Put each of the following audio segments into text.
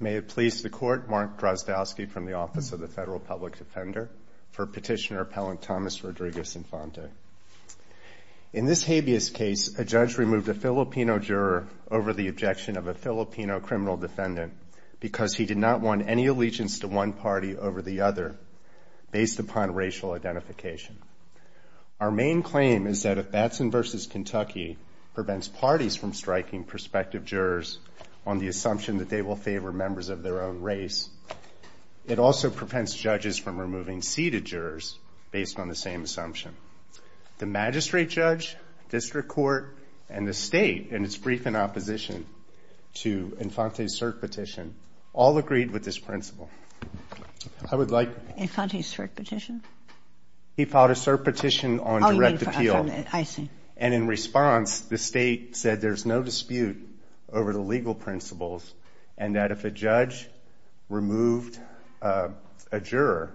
May it please the Court, Mark Drozdowski from the Office of the Federal Public Defender for Petitioner Appellant Thomas Rodriguez Infante. In this habeas case, a judge removed a Filipino juror over the objection of a Filipino criminal defendant because he did not want any allegiance to one party over the other based upon racial identification. Our main claim is that if Batson v. Kentucky prevents parties from striking prospective jurors on the assumption that they will favor members of their own race, it also prevents judges from removing seated jurors based on the same assumption. The magistrate judge, district court, and the state in its brief in opposition to Infante's CERC petition all agreed with this principle. I would like- Infante's CERC petition? He filed a CERC petition on direct appeal. I see. And in response, the state said there's no dispute over the legal principles and that if a judge removed a juror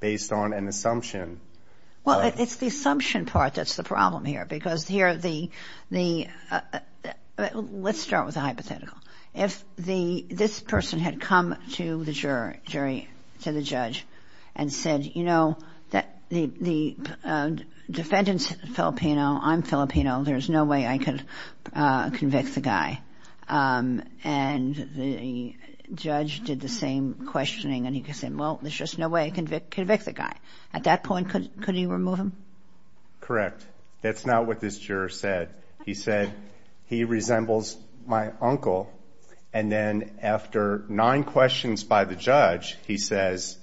based on an assumption- Well, it's the assumption part that's the problem here because here the- let's start with a hypothetical. If this person had come to the jury, to the judge, and said, you know, the defendant's Filipino, I'm Filipino, there's no way I could convict the guy. And the judge did the same questioning and he said, well, there's just no way I can convict the guy. At that point, couldn't you remove him? Correct. That's not what this juror said. He said, he resembles my uncle. And then after nine questions by the judge, he says,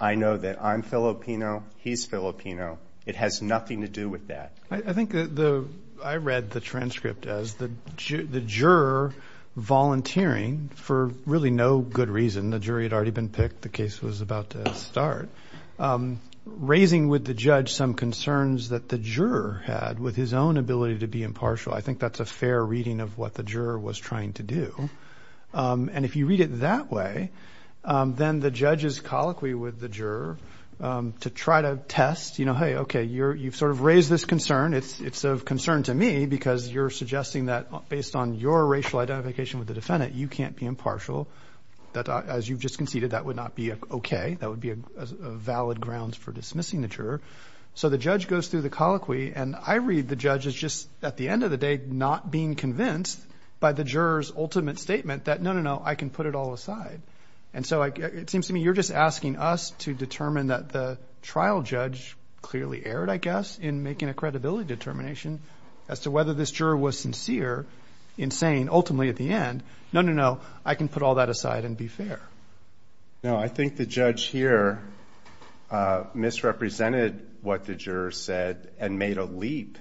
I know that I'm Filipino, he's Filipino. It has nothing to do with that. I think the- I read the transcript as the juror volunteering for really no good reason. The jury had already been picked. The case was about to start. Raising with the judge some concerns that the juror had with his own ability to be impartial. I think that's a fair reading of what the juror was trying to do. And if you read it that way, then the judge is colloquy with the juror to try to test, you know, hey, okay, you've sort of raised this concern. It's of concern to me because you're suggesting that based on your racial identification with the defendant, you can't be impartial. As you've just conceded, that would not be okay. That would be a valid grounds for dismissing the juror. So the judge goes through the colloquy, and I read the judge as just, at the end of the day, not being convinced by the juror's ultimate statement that, no, no, no, I can put it all aside. And so it seems to me you're just asking us to determine that the trial judge clearly erred, I guess, in making a credibility determination as to whether this juror was sincere in saying ultimately at the end, no, no, no, I can put all that aside and be fair. No, I think the judge here misrepresented what the juror said and made a leap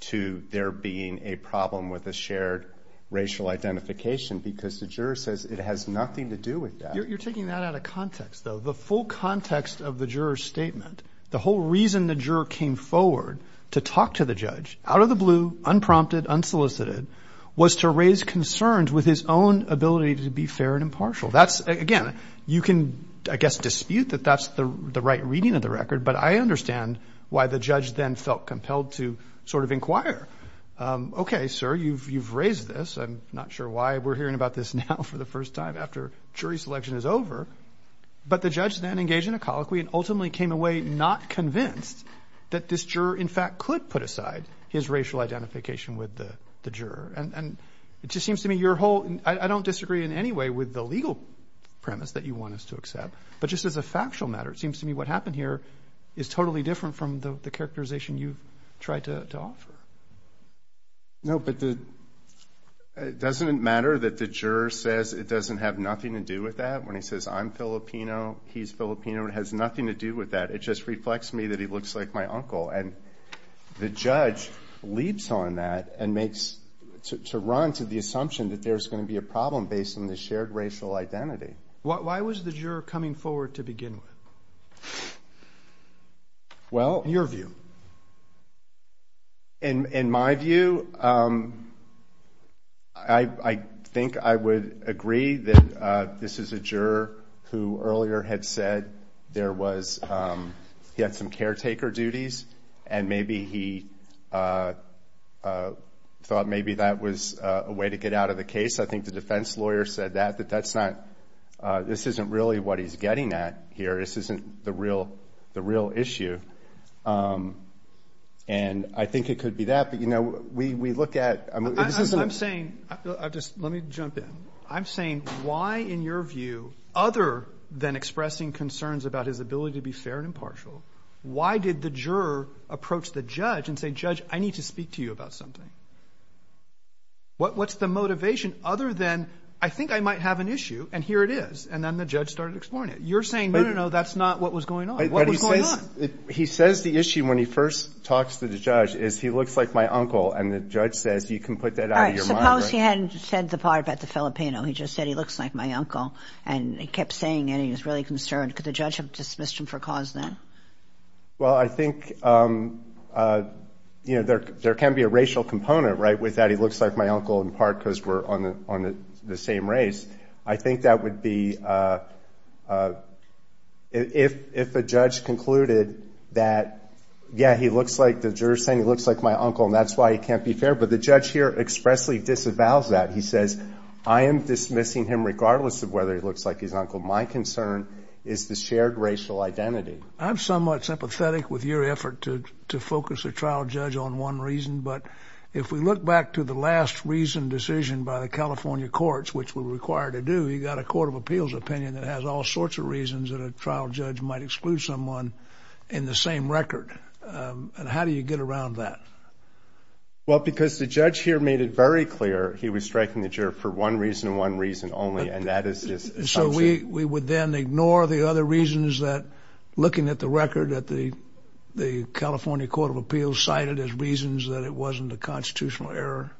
to there being a problem with a shared racial identification because the juror says it has nothing to do with that. You're taking that out of context, though. The full context of the juror's statement, the whole reason the juror came forward to talk to the judge, out of the blue, unprompted, unsolicited, was to raise concerns with his own ability to be fair and impartial. Again, you can, I guess, dispute that that's the right reading of the record, but I understand why the judge then felt compelled to sort of inquire, okay, sir, you've raised this, I'm not sure why we're hearing about this now for the first time after jury selection is over. But the judge then engaged in a colloquy and ultimately came away not convinced that this juror, in fact, could put aside his racial identification with the juror. And it just seems to me your whole, I don't disagree in any way with the legal premise that you want us to accept, but just as a factual matter, it seems to me what happened here is totally different from the characterization you've tried to offer. No, but the, doesn't it matter that the juror says it doesn't have nothing to do with that when he says I'm Filipino, he's Filipino, it has nothing to do with that. It just reflects me that he looks like my uncle. And the judge leaps on that and makes, to run to the assumption that there's going to be a problem based on the shared racial identity. Why was the juror coming forward to begin with? Well. Your view. In my view, I think I would agree that this is a juror who earlier had said there was, he had some caretaker duties and maybe he thought maybe that was a way to get out of the case. I think the defense lawyer said that, that that's not, this isn't really what he's getting at here. This isn't the real, the real issue. And I think it could be that, but you know, we, we look at, I'm saying, I just, let me jump in. I'm saying why, in your view, other than expressing concerns about his ability to be fair and impartial, why did the juror approach the judge and say, judge, I need to speak to you about something? What, what's the motivation other than I think I might have an issue and here it is? And then the judge started exploring it. You're saying, no, no, no, that's not what was going on. What was going on? He says the issue when he first talks to the judge is he looks like my uncle. And the judge says you can put that out of your mind. How is he hadn't said the part about the Filipino? He just said he looks like my uncle and he kept saying it and he was really concerned. Could the judge have dismissed him for cause then? Well, I think, you know, there, there can be a racial component, right? With that, he looks like my uncle in part because we're on the, on the same race. I think that would be, if, if a judge concluded that, yeah, he looks like, the juror's saying he looks like my uncle and that's why he can't be fair. But the judge here expressly disavows that. He says, I am dismissing him regardless of whether he looks like his uncle. My concern is the shared racial identity. I'm somewhat sympathetic with your effort to, to focus a trial judge on one reason. But if we look back to the last reasoned decision by the California courts, which we're required to do, you got a court of appeals opinion that has all sorts of reasons that a trial judge might exclude someone in the same record. And how do you get around that? Well, because the judge here made it very clear he was striking the juror for one reason and one reason only, and that is his assumption. So we, we would then ignore the other reasons that, looking at the record, that the, the California Court of Appeals cited as reasons that it wasn't a constitutional error?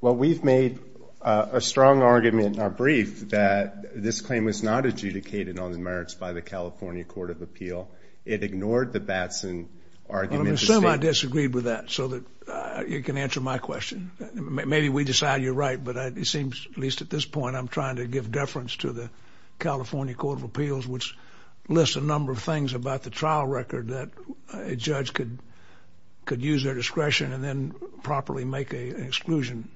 Well, we've made a, a strong argument in our brief that this claim was not adjudicated on the merits by the California Court of Appeal. It ignored the Batson argument. I mean, some might disagree with that, so that you can answer my question. Maybe we decide you're right, but it seems, at least at this point, I'm trying to give deference to the California Court of Appeals, which lists a number of things about the trial record that a judge could, could use their discretion and then properly make a exclusion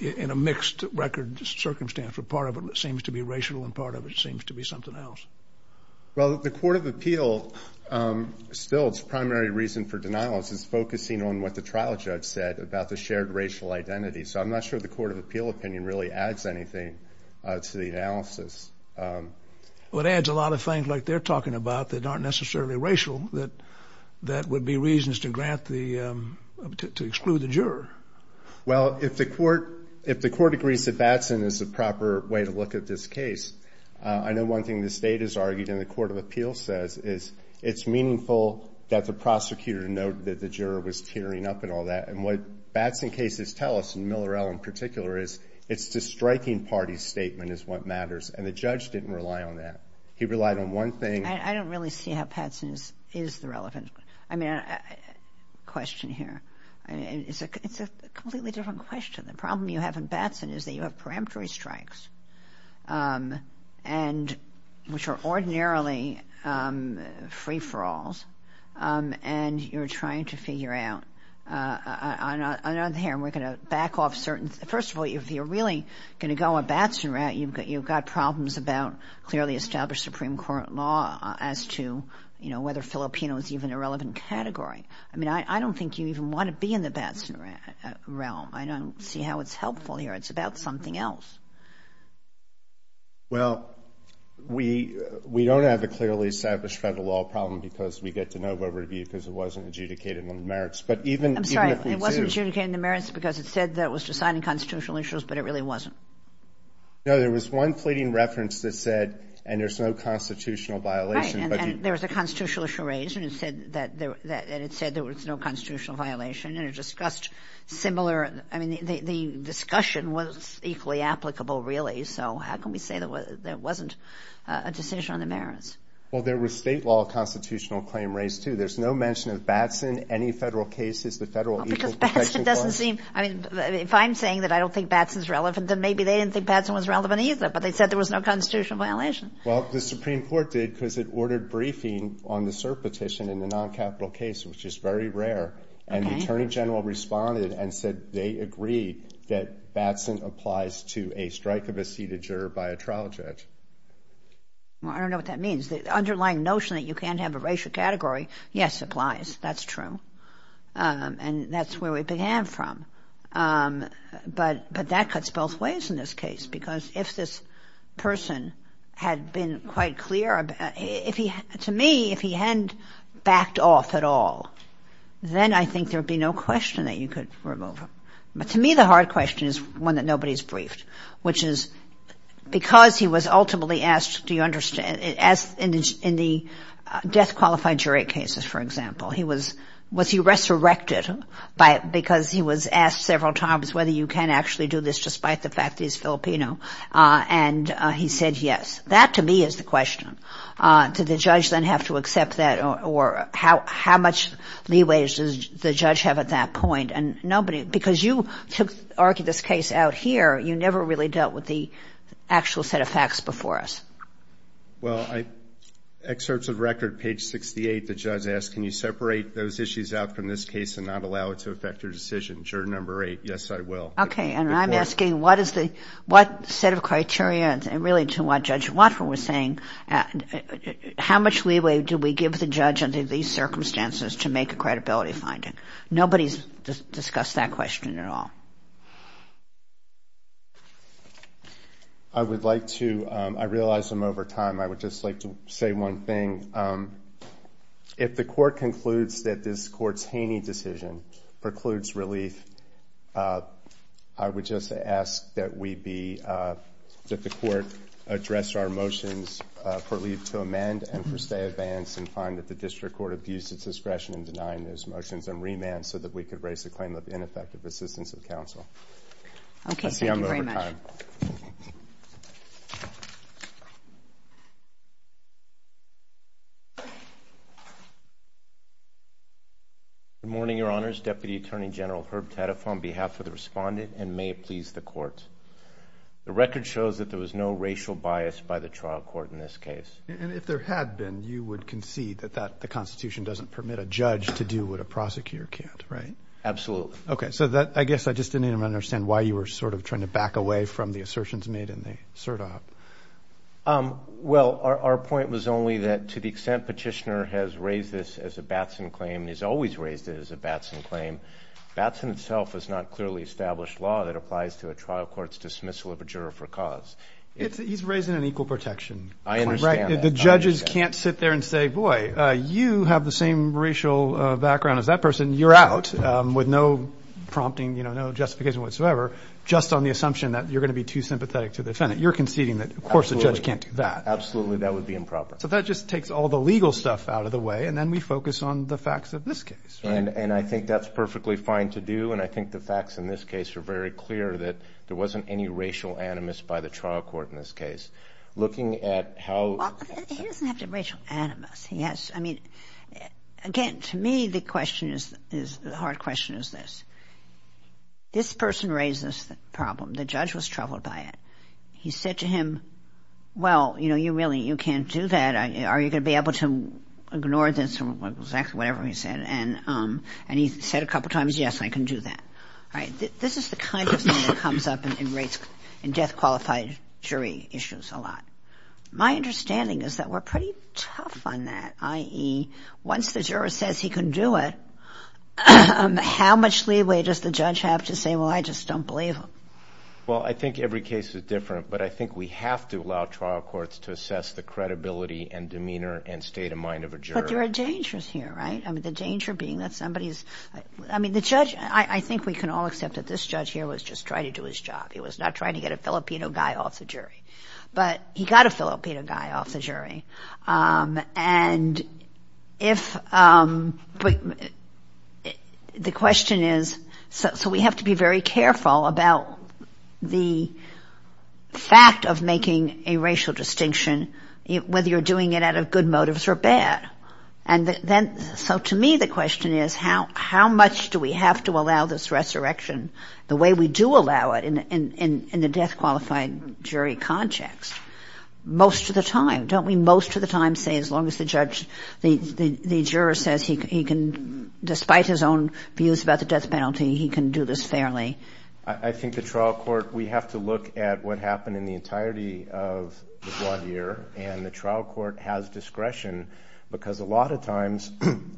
in a mixed record circumstance, where part of it seems to be racial and part of it seems to be something else. Well, the Court of Appeal, still its primary reason for denial is focusing on what the trial judge said about the shared racial identity. So I'm not sure the Court of Appeal opinion really adds anything to the analysis. Well, it adds a lot of things like they're talking about that aren't necessarily racial that, that would be reasons to grant the to, to exclude the juror. Well, if the court, if the court agrees that Batson is the proper way to look at this case, I know one thing the state has argued in the Court of Appeal says is, it's meaningful that the prosecutor noted that the juror was tearing up and all that. And what Batson cases tell us, and Miller L in particular, is it's the striking party's statement is what matters, and the judge didn't rely on that. He relied on one thing. I, I don't really see how Patson is, is the relevant, I mean, question here. I mean, it's a, it's a completely different question. The problem you have in Batson is that you have preemptory strikes and, which are ordinarily free-for-alls, and you're trying to figure out. I'm not, I'm not here, and we're going to back off certain. First of all, if you're really going to go a Batson route, you've got, you've got problems about clearly established Supreme Court law as to, you know, whether Filipino is even a relevant category. I mean, I, I don't think you even want to be in the Batson realm. I don't see how it's helpful here. It's about something else. Well, we, we don't have a clearly established federal law problem because we get to know where we're going to be because it wasn't adjudicated in the merits. But even, even if we do. I'm sorry, it wasn't adjudicated in the merits because it said that it was deciding constitutional issues, but it really wasn't. No, there was one pleading reference that said, and there's no constitutional violation, but you. Right, and, and there was a constitutional issue raised, and it said that there, that, and it said there was no constitutional violation. And it discussed similar, I mean, the, the discussion was equally applicable, really. So, how can we say that there wasn't a decision on the merits? Well, there was state law constitutional claim raised, too. There's no mention of Batson, any federal cases, the federal equal protection clause. Because Batson doesn't seem, I mean, if I'm saying that I don't think Batson's relevant, then maybe they didn't think Batson was relevant either. But they said there was no constitutional violation. Well, the Supreme Court did because it ordered briefing on the cert petition in the non-capital case, which is very rare. Okay. And the Attorney General responded and said they agree that Batson applies to a strike of a seated juror by a trial judge. Well, I don't know what that means. The underlying notion that you can't have a racial category, yes, applies. That's true. And that's where we began from. But, but that cuts both ways in this case. Because if this person had been quite clear about, if he, to me, if he hadn't backed off at all, then I think there'd be no question that you could remove him. But to me, the hard question is one that nobody's briefed. Which is, because he was ultimately asked, do you understand, as in the, in the death qualified jury cases, for example. He was, was he resurrected by, because he was asked several times whether you can actually do this despite the fact that he's Filipino and he said yes. That, to me, is the question. Did the judge then have to accept that, or how, how much leeway does the judge have at that point? And nobody, because you took, argued this case out here, you never really dealt with the actual set of facts before us. Well, I, excerpts of record, page 68, the judge asked, can you separate those issues out from this case and not allow it to affect your decision, juror number eight. Yes, I will. Okay, and I'm asking, what is the, what set of criteria, and really to what Judge Watford was saying, how much leeway do we give the judge under these circumstances to make a credibility finding? Nobody's discussed that question at all. I would like to, I realize I'm over time, I would just like to say one thing. If the court concludes that this court's Haney decision precludes relief, I would just ask that we be, that the court address our motions for leave to amend and for stay advance and find that the district court abused its discretion in denying those motions and remand so that we could raise the claim of ineffective assistance of counsel. Okay, thank you very much. I see I'm over time. Good morning, your honors. Deputy Attorney General Herb Taddeff on behalf of the respondent and may it please the court. The record shows that there was no racial bias by the trial court in this case. And if there had been, you would concede that that, the Constitution doesn't permit a judge to do what a prosecutor can't, right? Absolutely. Okay, so that, I guess I just didn't even understand why you were sort of trying to make the same assertions made in the SIRTOP. Well, our point was only that to the extent petitioner has raised this as a Batson claim, he's always raised it as a Batson claim. Batson itself is not clearly established law that applies to a trial court's dismissal of a juror for cause. He's raising an equal protection. I understand that. The judges can't sit there and say, boy, you have the same racial background as that person. You're out with no prompting, you know, no justification whatsoever. Just on the assumption that you're going to be too sympathetic to the defendant. You're conceding that, of course, the judge can't do that. Absolutely, that would be improper. So that just takes all the legal stuff out of the way. And then we focus on the facts of this case, right? And I think that's perfectly fine to do. And I think the facts in this case are very clear that there wasn't any racial animus by the trial court in this case. Looking at how- Well, he doesn't have to have racial animus. He has, I mean, again, to me, the question is, the hard question is this. This person raised this problem. The judge was troubled by it. He said to him, well, you know, you really, you can't do that. Are you going to be able to ignore this or exactly whatever he said? And he said a couple times, yes, I can do that. All right, this is the kind of thing that comes up in death-qualified jury issues a lot. My understanding is that we're pretty tough on that, i.e., once the juror says he can do it, how much leeway does the judge have to say, well, I just don't believe him? Well, I think every case is different. But I think we have to allow trial courts to assess the credibility and demeanor and state of mind of a juror. But there are dangers here, right? I mean, the danger being that somebody is- I mean, the judge, I think we can all accept that this judge here was just trying to do his job. He was not trying to get a Filipino guy off the jury. But he got a Filipino guy off the jury. And if- but the question is- so we have to be very careful about the fact of making a racial distinction, whether you're doing it out of good motives or bad. And then- so to me, the question is how much do we have to allow this resurrection the way we do allow it in the death-qualified jury context most of the time? Don't we most of the time say as long as the judge- the juror says he can- despite his own views about the death penalty, he can do this fairly? I think the trial court- we have to look at what happened in the entirety of the one year. And the trial court has discretion because a lot of times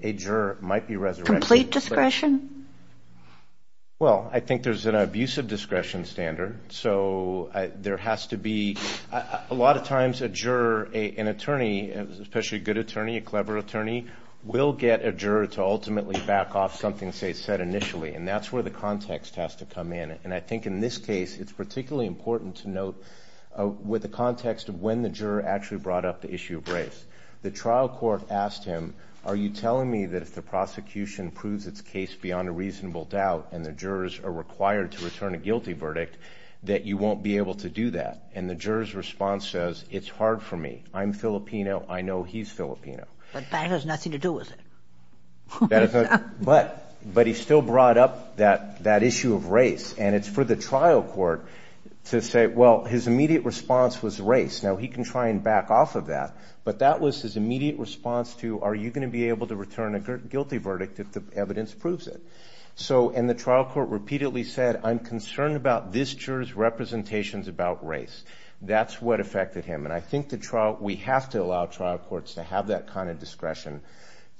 a juror might be resurrected. Complete discretion? Well, I think there's an abusive discretion standard. So there has to be- a lot of times a juror, an attorney, especially a good attorney, a clever attorney, will get a juror to ultimately back off something, say, said initially. And that's where the context has to come in. And I think in this case, it's particularly important to note with the context of when the juror actually brought up the issue of race. The trial court asked him, are you telling me that if the prosecution proves its case beyond a reasonable doubt and the jurors are required to return a guilty verdict, that you won't be able to do that? And the juror's response says, it's hard for me. I'm Filipino. I know he's Filipino. But that has nothing to do with it. But he still brought up that issue of race. And it's for the trial court to say, well, his immediate response was race. Now, he can try and back off of that. But that was his immediate response to, are you going to be able to return a guilty verdict if the evidence proves it? And the trial court repeatedly said, I'm concerned about this juror's representations about race. That's what affected him. And I think we have to allow trial courts to have that kind of discretion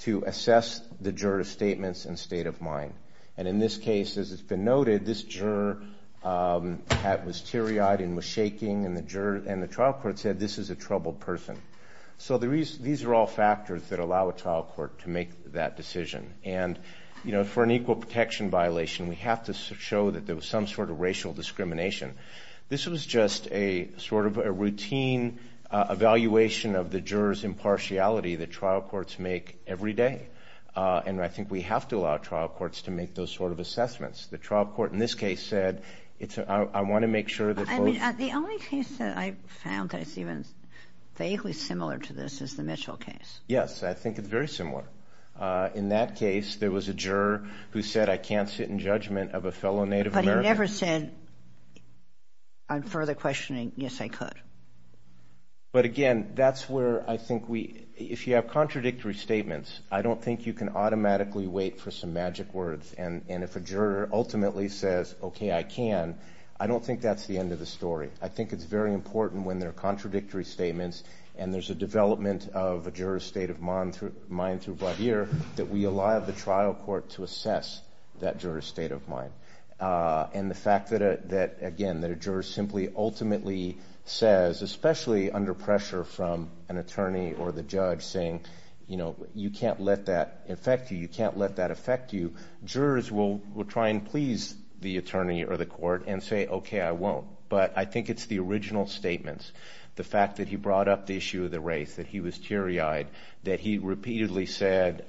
to assess the juror's statements and state of mind. And in this case, as has been noted, this juror was teary-eyed and was shaking. And the trial court said, this is a troubled person. So these are all factors that allow a trial court to make that decision. And for an equal protection violation, we have to show that there was some sort of racial discrimination. This was just a sort of a routine evaluation of the juror's impartiality that trial courts make every day. And I think we have to allow trial courts to make those sort of assessments. The trial court, in this case, said, I want to make sure that folks- I mean, the only case that I found that is even vaguely similar to this is the Mitchell case. Yes, I think it's very similar. In that case, there was a juror who said, I can't sit in judgment of a fellow Native American- But he never said, on further questioning, yes, I could. But again, that's where I think we- if you have contradictory statements, I don't think you can automatically wait for some magic words. And if a juror ultimately says, okay, I can, I don't think that's the end of the story. I think it's very important when there are contradictory statements and there's a development of a juror's state of mind through Vahir that we allow the trial court to assess that juror's state of mind. And the fact that, again, that a juror simply ultimately says, especially under pressure from an attorney or the judge saying, you know, you can't let that affect you, you can't let that affect you, jurors will try and please the attorney or the court and say, okay, I won't. But I think it's the original statements. The fact that he brought up the issue of the race, that he was teary-eyed, that he repeatedly said,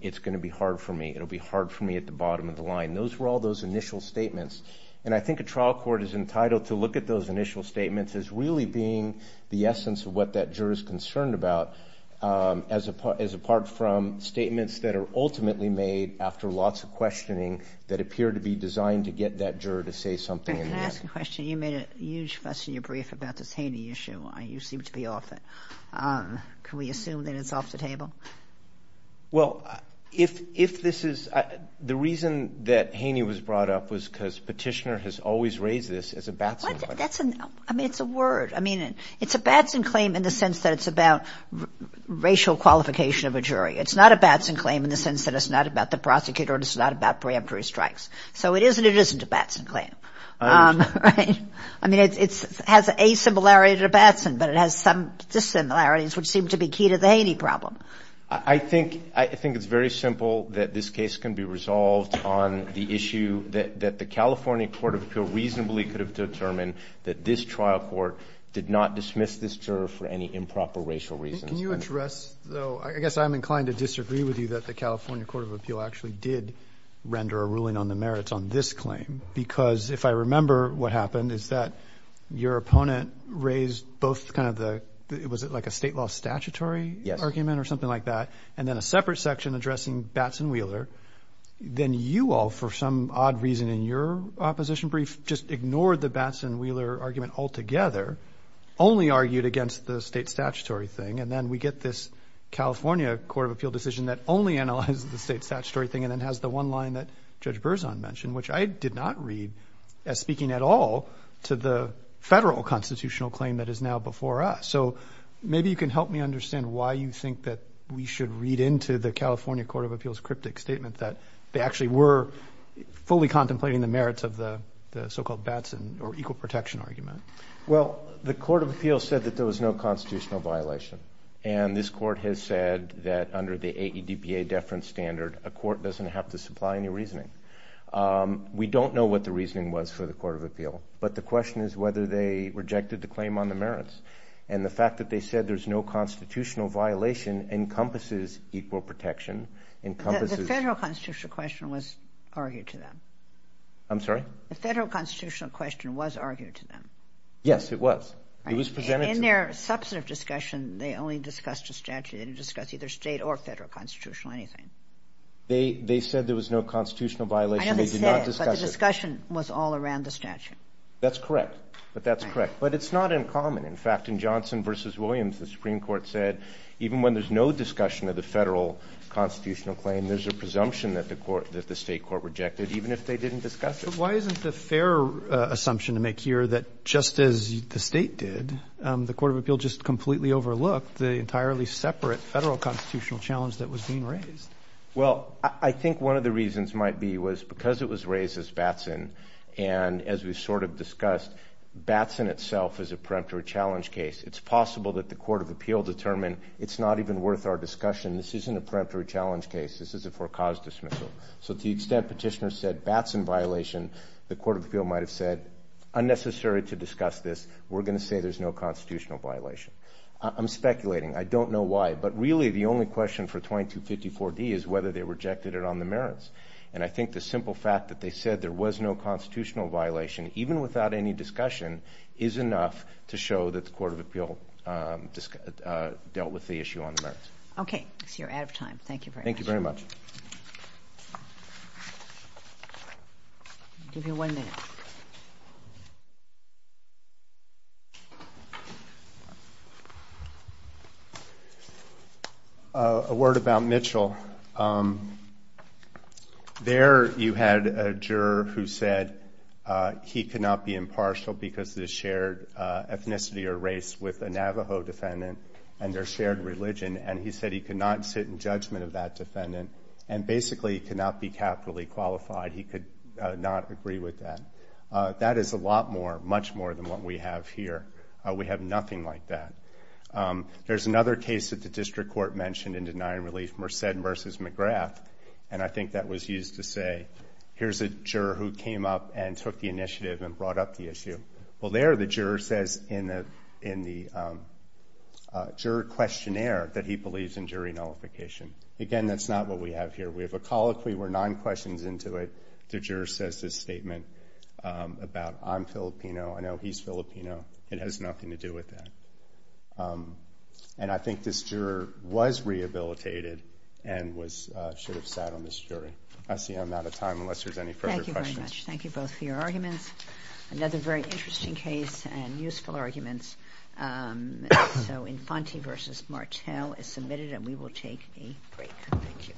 it's going to be hard for me, it'll be hard for me at the bottom of the line. Those were all those initial statements. And I think a trial court is entitled to look at those initial statements as really being the essence of what that juror's concerned about, as apart from statements that are ultimately made after lots of questioning You made a huge fuss in your brief about this Haney issue. You seem to be off it. Can we assume that it's off the table? Well, if this is, the reason that Haney was brought up was because Petitioner has always raised this as a Batson claim. I mean, it's a word. I mean, it's a Batson claim in the sense that it's about racial qualification of a jury. It's not a Batson claim in the sense that it's not about the prosecutor and it's not about preemptory strikes. So it is and it isn't a Batson claim. I mean, it has a similarity to Batson, but it has some dissimilarities which seem to be key to the Haney problem. I think it's very simple that this case can be resolved on the issue that the California Court of Appeal reasonably could have determined that this trial court did not dismiss this juror for any improper racial reasons. Can you address, though, I guess I'm inclined to disagree with you that the California Court of Appeal actually did render a ruling on the merits on this claim because if I remember what happened is that your opponent raised both kind of the, was it like a state law statutory argument or something like that? And then a separate section addressing Batson-Wheeler. Then you all, for some odd reason in your opposition brief, just ignored the Batson-Wheeler argument altogether, only argued against the state statutory thing. And then we get this California Court of Appeal decision that only analyzes the state statutory thing and then has the one line that Judge Berzon mentioned, which I did not read as speaking at all to the federal constitutional claim that is now before us. So maybe you can help me understand why you think that we should read into the California Court of Appeal's cryptic statement that they actually were fully contemplating the merits of the so-called Batson or equal protection argument. Well, the Court of Appeal said that there was no constitutional violation. And this court has said that under the AEDPA deference standard, a court doesn't have to supply any reasoning. We don't know what the reasoning was for the Court of Appeal. But the question is whether they rejected the claim on the merits. And the fact that they said there's no constitutional violation encompasses equal protection, encompasses... The federal constitutional question was argued to them. I'm sorry? The federal constitutional question was argued to them. Yes, it was. It was presented... In their substantive discussion, they only discussed a statute. They didn't discuss either state or federal constitutional, anything. They said there was no constitutional violation. I know they said, but the discussion was all around the statute. That's correct. But that's correct. But it's not uncommon. In fact, in Johnson v. Williams, the Supreme Court said even when there's no discussion of the federal constitutional claim, there's a presumption that the state court rejected, even if they didn't discuss it. Why isn't the fair assumption to make here that just as the State did, the Court of Appeal just completely overlooked the entirely separate federal constitutional challenge that was being raised? Well, I think one of the reasons might be was because it was raised as Batson, and as we sort of discussed, Batson itself is a preemptory challenge case. It's possible that the Court of Appeal determined it's not even worth our discussion. This isn't a preemptory challenge case. This is a forecaused dismissal. So to the extent petitioners said Batson violation, the Court of Appeal might have said, unnecessary to discuss this. We're going to say there's no constitutional violation. I'm speculating. I don't know why. But really, the only question for 2254D is whether they rejected it on the merits. And I think the simple fact that they said there was no constitutional violation, even without any discussion, is enough to show that the Court of Appeal dealt with the issue on the merits. Okay. I see you're out of time. Thank you very much. Thank you very much. Give you one minute. A word about Mitchell. There you had a juror who said he could not be impartial because of the shared ethnicity or race with a Navajo defendant and their shared religion. And he said he could not sit in judgment of that defendant. And basically, he could not be capitally qualified. He could not agree with that. That is a lot more, much more than what we have here. We have nothing like that. There's another case that the district court mentioned in denying relief, Merced versus McGrath. And I think that was used to say, here's a juror who came up and took the initiative and brought up the issue. Well, there the juror says in the juror questionnaire that he believes in jury nullification. Again, that's not what we have here. We have a colloquy. We're nine questions into it. The juror says this statement about, I'm Filipino. I know he's Filipino. It has nothing to do with that. And I think this juror was rehabilitated and should have sat on this jury. I see I'm out of time unless there's any further questions. Thank you very much. Thank you both for your arguments. Another very interesting case and useful arguments. So Infante versus Martel is submitted. And we will take a break. Thank you.